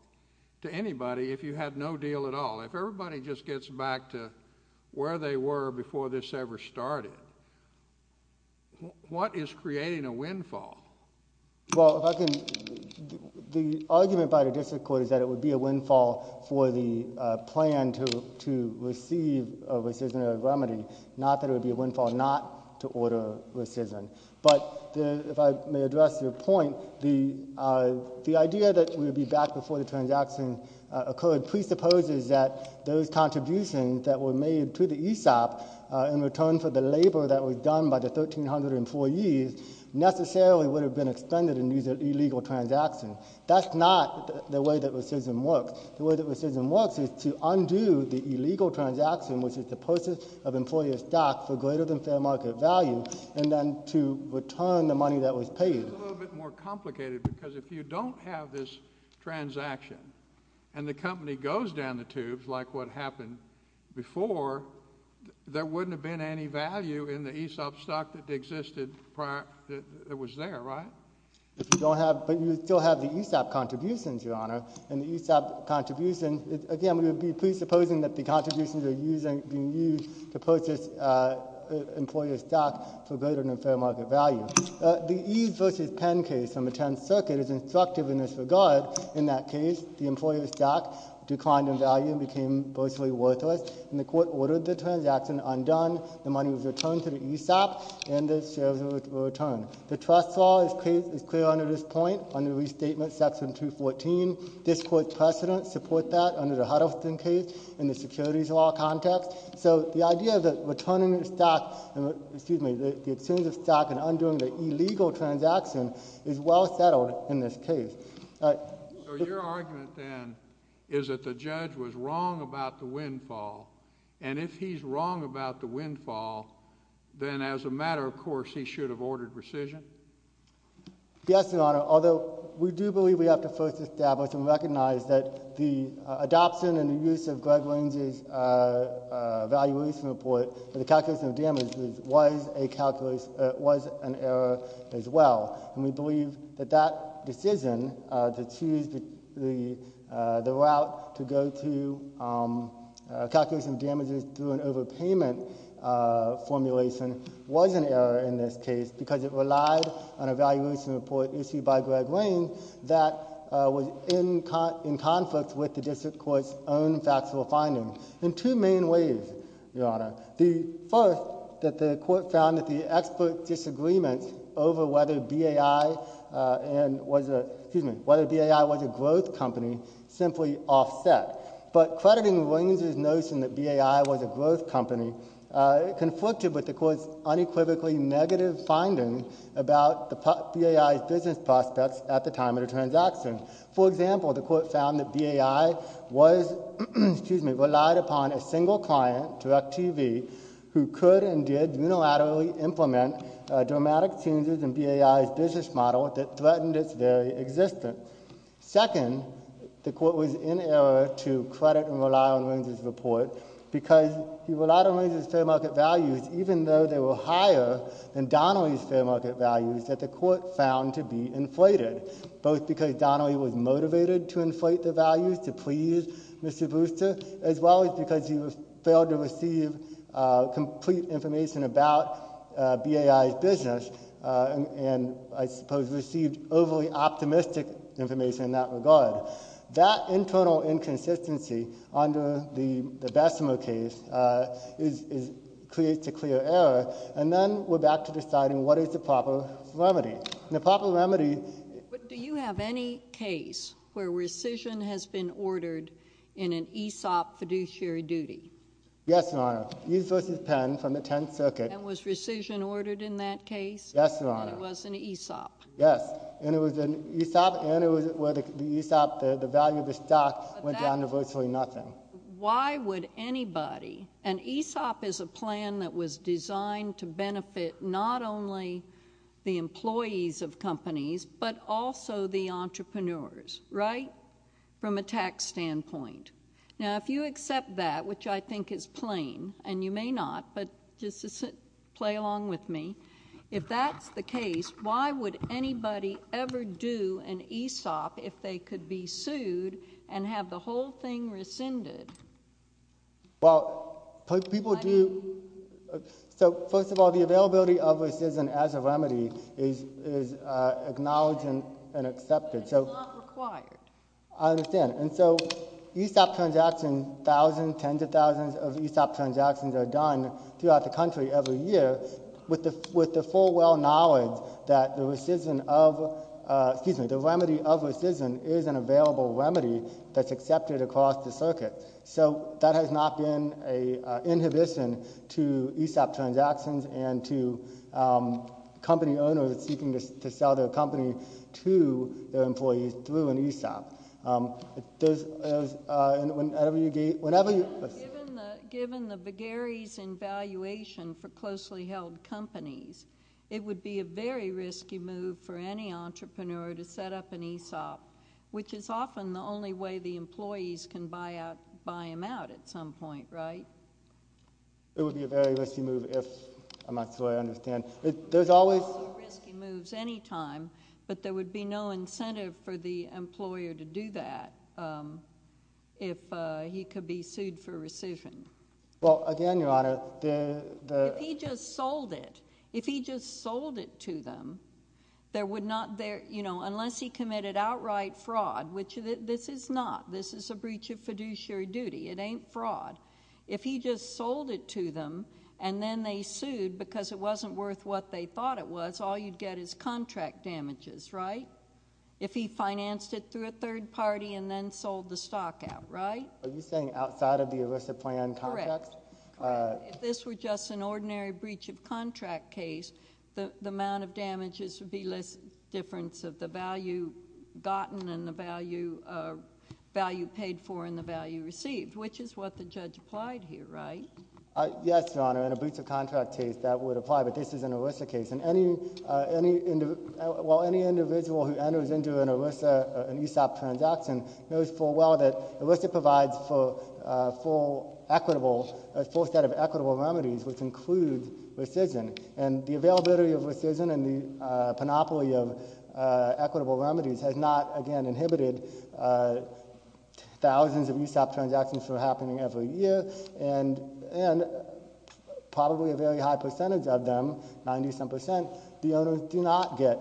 to anybody if you had no deal at all? If everybody just gets back to where they were before this ever started, what is creating a windfall? Well, the argument by the district court is that it would be a windfall for the plan to receive a rescission or a remedy, not that it would be a windfall not to order rescission. But if I may address your point, the idea that we would be back before the transaction occurred presupposes that those contributions that were made to the ESOP in return for the labor that was done by the 1,304 employees necessarily would have been expended in these illegal transactions. That's not the way that rescission works. The way that rescission works is to undo the illegal transaction, which is the purchase of employee stock for greater than fair market value, and then to return the money that was paid. It's a little bit more complicated because if you don't have this transaction and the company goes down the tubes like what happened before, there wouldn't have been any value in the ESOP stock that existed prior—that was there, right? If you don't have—but you would still have the ESOP contributions, Your Honor, and the ESOP contribution—again, we would be presupposing that the contributions are being used to purchase employer stock for greater than fair market value. The Eves v. Penn case from the 10th Circuit is instructive in this regard. In that case, the employer stock declined in value and became virtually worthless, and the court ordered the transaction undone. The money was returned to the ESOP, and the shares were returned. The trust law is clear under this point, under Restatement Section 214. This court's precedents support that under the Huddleston case and the securities law context. So the idea that returning the stock—excuse me, the exchange of stock and undoing the illegal transaction is well settled in this case. So your argument then is that the judge was wrong about the windfall, and if he's wrong about the windfall, then as a matter of course he should have ordered rescission? Yes, Your Honor, although we do believe we have to first establish and recognize that the adoption and the use of Greg Lane's evaluation report for the calculation of damages was an error as well, and we believe that that decision to choose the route to go to calculation of damages through an overpayment formulation was an error in this case because it relied on an evaluation report issued by Greg Lane that was in conflict with the district court's own factual findings in two main ways, Your Honor. The first, that the court found that the expert disagreements over whether BAI was a growth company simply offset. But crediting Williams' notion that BAI was a growth company, it conflicted with the court's unequivocally negative findings about BAI's business prospects at the time of the transaction. For example, the court found that BAI relied upon a single client, DirecTV, who could and did unilaterally implement dramatic changes in BAI's business model that threatened its very existence. Second, the court was in error to credit and rely on Williams' report because he relied on Williams' fair market values even though they were higher than Donnelly's fair market values that the court found to be inflated, both because Donnelly was motivated to inflate the values to please Mr. Brewster as well as because he failed to receive complete information about BAI's business and I suppose received overly optimistic information in that regard. That internal inconsistency under the Bessemer case creates a clear error and then we're back to deciding what is the proper remedy. The proper remedy... But do you have any case where rescission has been ordered in an ESOP fiduciary duty? Yes, Your Honor. Hughes v. Penn from the Tenth Circuit... And was rescission ordered in that case? Yes, Your Honor. And it was an ESOP? Yes, and it was an ESOP and it was where the ESOP, the value of the stock, went down to virtually nothing. Why would anybody... An ESOP is a plan that was designed to benefit not only the employees of companies but also the entrepreneurs, right, from a tax standpoint. Now, if you accept that, which I think is plain, and you may not, but just play along with me, if that's the case, why would anybody ever do an ESOP if they could be sued and have the whole thing rescinded? Well, people do... So, first of all, the availability of rescission as a remedy is acknowledged and accepted, so... It's not required. I understand. And so, ESOP transactions, thousands, tens of thousands of ESOP transactions are done throughout the country every year with the full well knowledge that the rescission of... Excuse me, the remedy of rescission is an available remedy that's accepted across the circuit. So, that has not been an inhibition to ESOP transactions and to company owners seeking to sell their company to their employees through an ESOP. There's... And whenever you... Given the Bagheri's in valuation for closely held companies, it would be a very risky move for any entrepreneur to set up an ESOP, which is often the only way the employees can buy him out at some point, right? It would be a very risky move if... I'm not sure I understand. There's always... There's always risky moves any time, but there would be no incentive for the employer to do that if he could be sued for rescission. Well, again, Your Honor, the... If he just sold it, if he just sold it to them, there would not... You know, unless he committed outright fraud, which this is not. This is a breach of fiduciary duty. It ain't fraud. If he just sold it to them and then they sued because it wasn't worth what they thought it was, all you'd get is contract damages, right? If he financed it through a third party and then sold the stock out, right? Are you saying outside of the illicit plan contract? Correct. Correct. If this were just an ordinary breach of contract case, the amount of damages would be less difference of the value gotten and the value paid for and the value received, which is what the judge applied here, right? Yes, Your Honor. In a breach of contract case, that would apply, but this is an ERISA case. And any... Well, any individual who enters into an ERISA, an ESOP transaction, knows full well that ERISA provides for full equitable... a full set of equitable remedies, which include rescission. And the availability of rescission and the panoply of equitable remedies has not, again, inhibited thousands of ESOP transactions from happening every year, and probably a very high percentage of them, 90-some percent, the owners do not get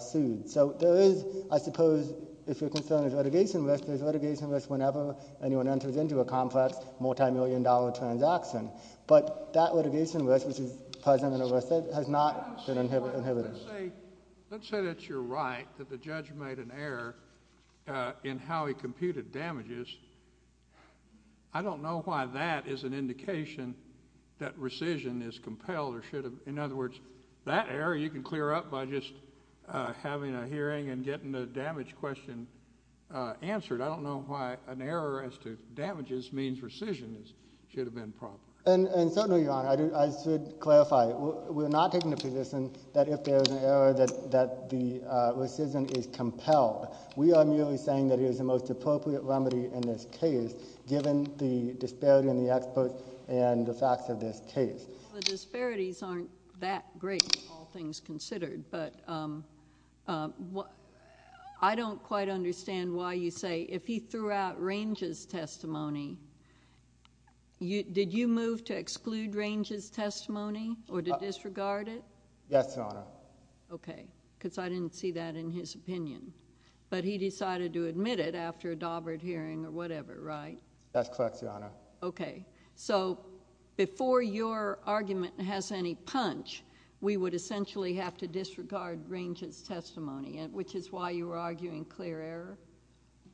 sued. So there is, I suppose, if your concern is litigation risk, there's litigation risk whenever anyone enters into a complex multimillion-dollar transaction. But that litigation risk, which is present in ERISA, has not been inhibited. Let's say that you're right, that the judge made an error in how he computed damages. I don't know why that is an indication that rescission is compelled or should have... In other words, that error you can clear up by just having a hearing and getting the damage question answered. I don't know why an error as to damages means rescission should have been proper. And certainly, Your Honor, I should clarify. We're not taking the position that if there's an error, that the rescission is compelled. We are merely saying that it is the most appropriate remedy in this case, given the disparity in the experts and the facts of this case. Well, the disparities aren't that great, all things considered. But I don't quite understand why you say, if he threw out Range's testimony, did you move to exclude Range's testimony or to disregard it? Yes, Your Honor. Okay. Because I didn't see that in his opinion. But he decided to admit it after a Daubert hearing or whatever, right? That's correct, Your Honor. Okay. So before your argument has any punch, we would essentially have to disregard Range's testimony, which is why you were arguing clear error?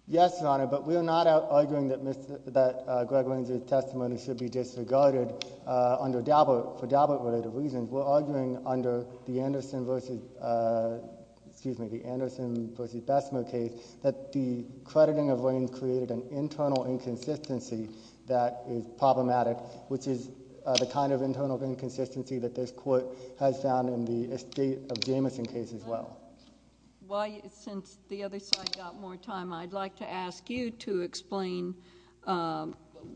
Yes, Your Honor. But we're not arguing that Greg Range's testimony should be disregarded under Daubert for Daubert-related reasons. We're arguing under the Anderson v. Bessemer case that the crediting of Range created an internal inconsistency that is problematic, which is the kind of internal inconsistency that this Court has found in the estate of Jamison case as well. Since the other side got more time, I'd like to ask you to explain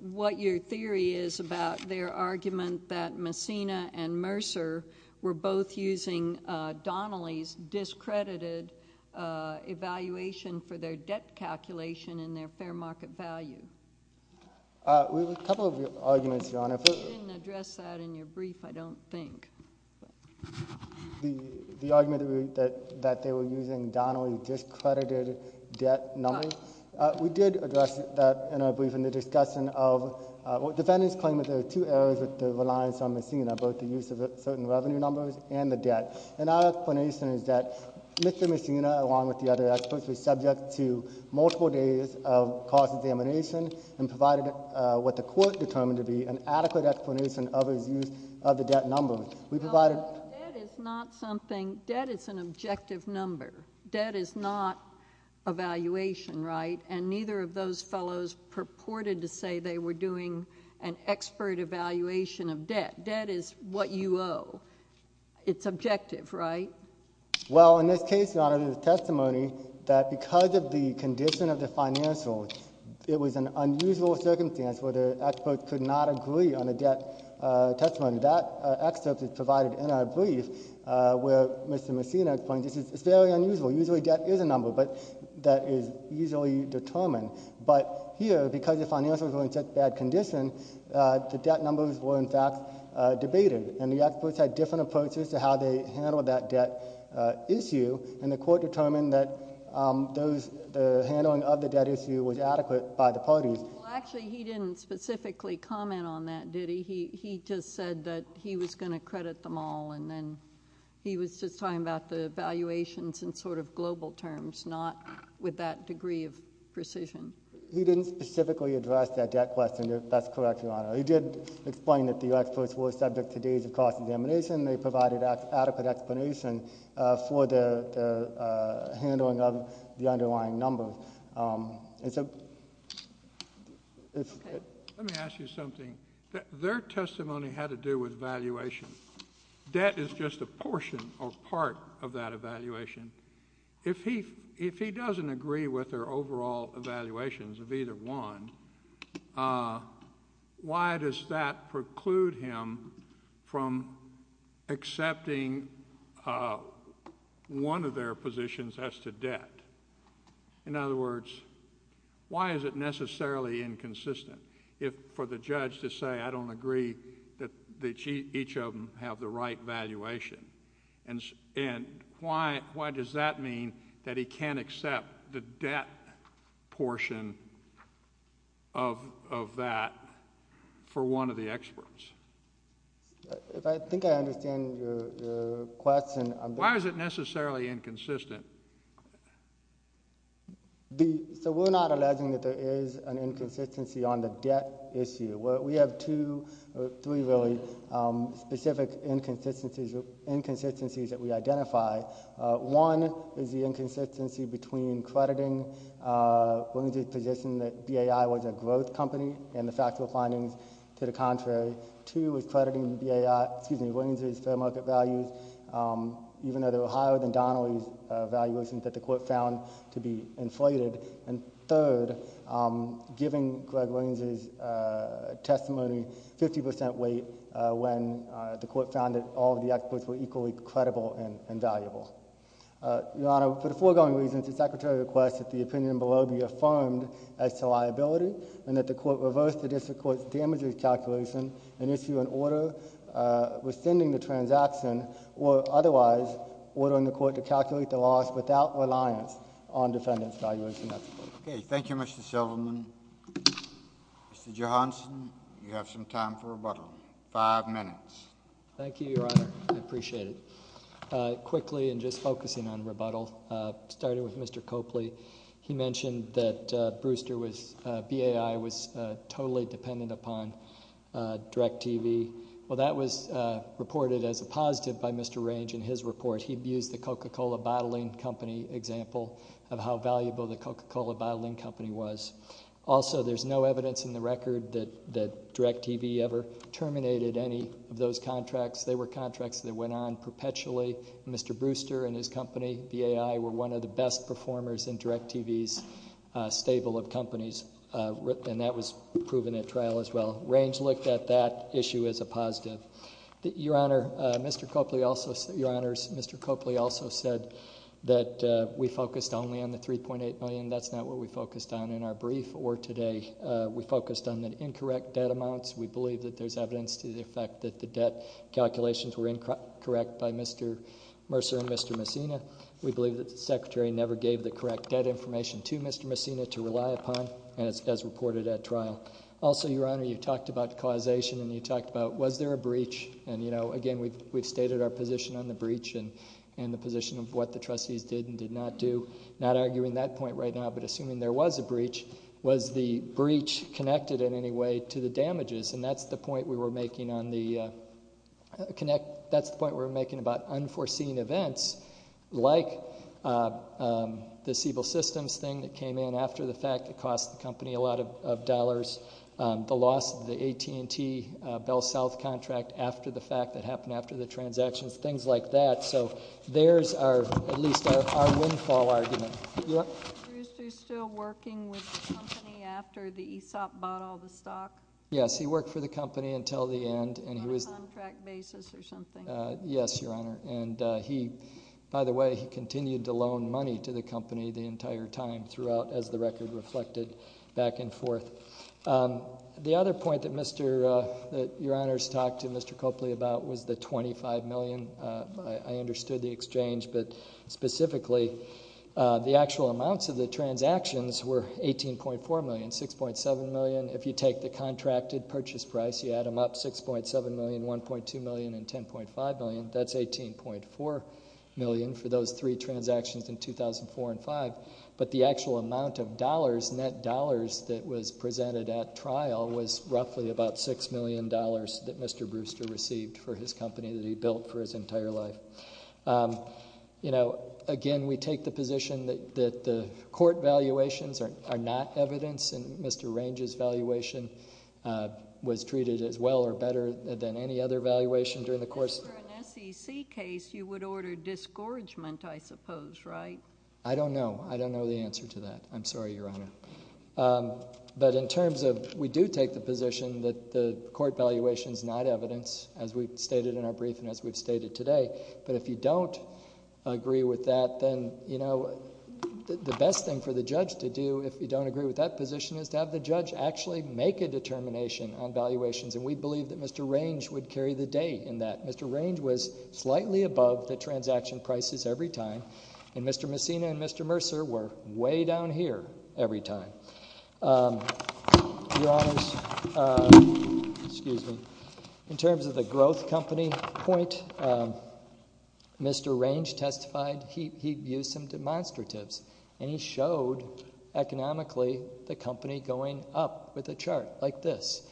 what your theory is about their argument that Messina and Mercer were both using Donnelly's discredited evaluation for their debt calculation in their fair market value. We have a couple of arguments, Your Honor. You didn't address that in your brief, I don't think. The argument that they were using Donnelly's discredited debt number, we did address that in our brief in the discussion of what defendants claim that there are two errors with the reliance on Messina, both the use of certain revenue numbers and the debt. And our explanation is that Mr. Messina, along with the other experts, was subject to multiple days of cost examination and provided what the Court determined to be an adequate explanation of his use of the debt number. Well, debt is not something—debt is an objective number. Debt is not evaluation, right? And neither of those fellows purported to say they were doing an expert evaluation of debt. Debt is what you owe. It's objective, right? Well, in this case, Your Honor, the testimony that because of the condition of the financials, it was an unusual circumstance where the experts could not agree on a debt testimony. That excerpt is provided in our brief where Mr. Messina explains it's very unusual. Usually debt is a number, but that is easily determined. But here, because the financials were in such bad condition, the debt numbers were in fact debated. And the experts had different approaches to how they handled that debt issue, and the Court determined that the handling of the debt issue was adequate by the parties. Well, actually, he didn't specifically comment on that, did he? He just said that he was going to credit them all, and then he was just talking about the valuations in sort of global terms, not with that degree of precision. He didn't specifically address that debt question, if that's correct, Your Honor. He did explain that the experts were subject to days of cost examination, and they provided adequate explanation for the handling of the underlying numbers. Let me ask you something. Their testimony had to do with valuation. Debt is just a portion or part of that evaluation. If he doesn't agree with their overall evaluations of either one, why does that preclude him from accepting one of their positions as to debt? In other words, why is it necessarily inconsistent for the judge to say, I don't agree that each of them have the right valuation, and why does that mean that he can't accept the debt portion of that for one of the experts? If I think I understand your question... Why is it necessarily inconsistent? We're not alleging that there is an inconsistency on the debt issue. We have two or three really specific inconsistencies that we identify. One is the inconsistency between crediting Williams' position that BAI was a growth company and the factual findings to the contrary. Two is crediting Williams' fair market values, even though they were higher than Donnelly's evaluations that the Court found to be inflated. And third, giving Greg Williams' testimony 50 percent weight when the Court found that all of the experts were equally credible and valuable. Your Honor, for the foregoing reasons, the Secretary requests that the opinion below be affirmed as to liability and that the Court reverse the District Court's damages calculation and issue an order rescinding the transaction or otherwise ordering the Court to calculate the loss without reliance on defendant's valuation. Okay. Thank you, Mr. Silverman. Mr. Johanson, you have some time for rebuttal. Five minutes. Thank you, Your Honor. I appreciate it. Quickly, and just focusing on rebuttal, starting with Mr. Copley, he mentioned that BAI was totally dependent upon DirecTV. Well, that was reported as a positive by Mr. Range in his report. He used the Coca-Cola bottling company example of how valuable the Coca-Cola bottling company was. Also, there's no evidence in the record that DirecTV ever terminated any of those contracts. They were contracts that went on perpetually. Mr. Brewster and his company, BAI, were one of the best performers in DirecTV's stable of companies, and that was proven at trial as well. Range looked at that issue as a positive. Your Honor, Mr. Copley also said that we focused only on the $3.8 million. That's not what we focused on in our brief or today. We focused on the incorrect debt amounts. We believe that there's evidence to the effect that the debt calculations were incorrect by Mr. Mercer and Mr. Messina. We believe that the Secretary never gave the correct debt information to Mr. Messina to rely upon, as reported at trial. Also, Your Honor, you talked about causation, and you talked about was there a breach. And, you know, again, we've stated our position on the breach and the position of what the trustees did and did not do. I'm not arguing that point right now, but assuming there was a breach, was the breach connected in any way to the damages? And that's the point we were making about unforeseen events, like the Siebel Systems thing that came in after the fact that cost the company a lot of dollars, the loss of the AT&T Bell South contract after the fact that happened after the transactions, things like that. So there's our, at least, our windfall argument. You want? Was Bruce Du still working with the company after the ESOP bought all the stock? Yes, he worked for the company until the end. On a contract basis or something? Yes, Your Honor. And he, by the way, he continued to loan money to the company the entire time throughout, as the record reflected, back and forth. The other point that Your Honor's talked to Mr. Copley about was the $25 million. I understood the exchange, but specifically, the actual amounts of the transactions were $18.4 million, $6.7 million. If you take the contracted purchase price, you add them up, $6.7 million, $1.2 million, and $10.5 million. That's $18.4 million for those three transactions in 2004 and 2005. But the actual amount of dollars, net dollars, that was presented at trial was roughly about $6 million that Mr. Brewster received for his company that he built for his entire life. Again, we take the position that the court valuations are not evidence, and Mr. Range's valuation was treated as well or better than any other valuation during the course. If it were an SEC case, you would order disgorgement, I suppose, right? I don't know. I don't know the answer to that. I'm sorry, Your Honor. But in terms of we do take the position that the court valuation is not evidence, as we've stated in our brief and as we've stated today. But if you don't agree with that, then the best thing for the judge to do if you don't agree with that position is to have the judge actually make a determination on valuations. And we believe that Mr. Range would carry the day in that. Mr. Range was slightly above the transaction prices every time, and Mr. Messina and Mr. Mercer were way down here every time. Your Honors, in terms of the growth company point, Mr. Range testified he used some demonstratives, and he showed economically the company going up with a chart like this.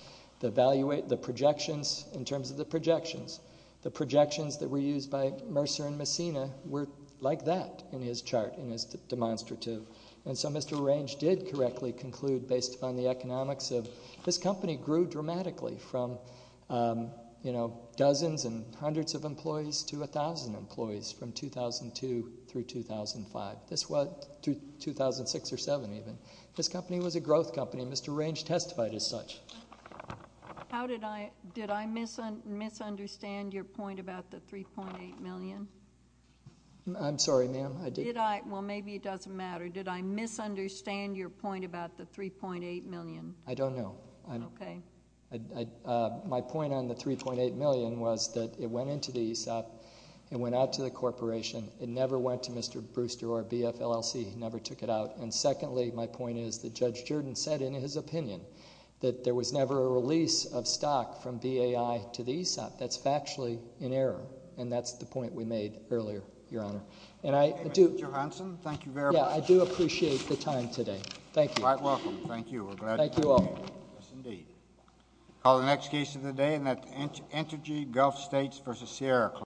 The projections, in terms of the projections, the projections that were used by Mercer and Messina were like that in his chart, in his demonstrative. And so Mr. Range did correctly conclude, based upon the economics of this company grew dramatically from dozens and hundreds of employees to 1,000 employees from 2002 through 2005, 2006 or 2007 even. This company was a growth company. Mr. Range testified as such. Did I misunderstand your point about the $3.8 million? I'm sorry, ma'am. Well, maybe it doesn't matter. Did I misunderstand your point about the $3.8 million? I don't know. Okay. My point on the $3.8 million was that it went into the ESOP. It went out to the corporation. It never went to Mr. Brewster or BFLLC. He never took it out. And secondly, my point is that Judge Jordan said in his opinion that there was never a release of stock from BAI to the ESOP. That's factually in error. And that's the point we made earlier, Your Honor. And I do— Mr. Johanson, thank you very much. Yeah, I do appreciate the time today. Thank you. You're quite welcome. Thank you. We're glad you came. Thank you all. Yes, indeed. We'll call the next case of the day, and that's Entergy Gulf States v. Sierra Club.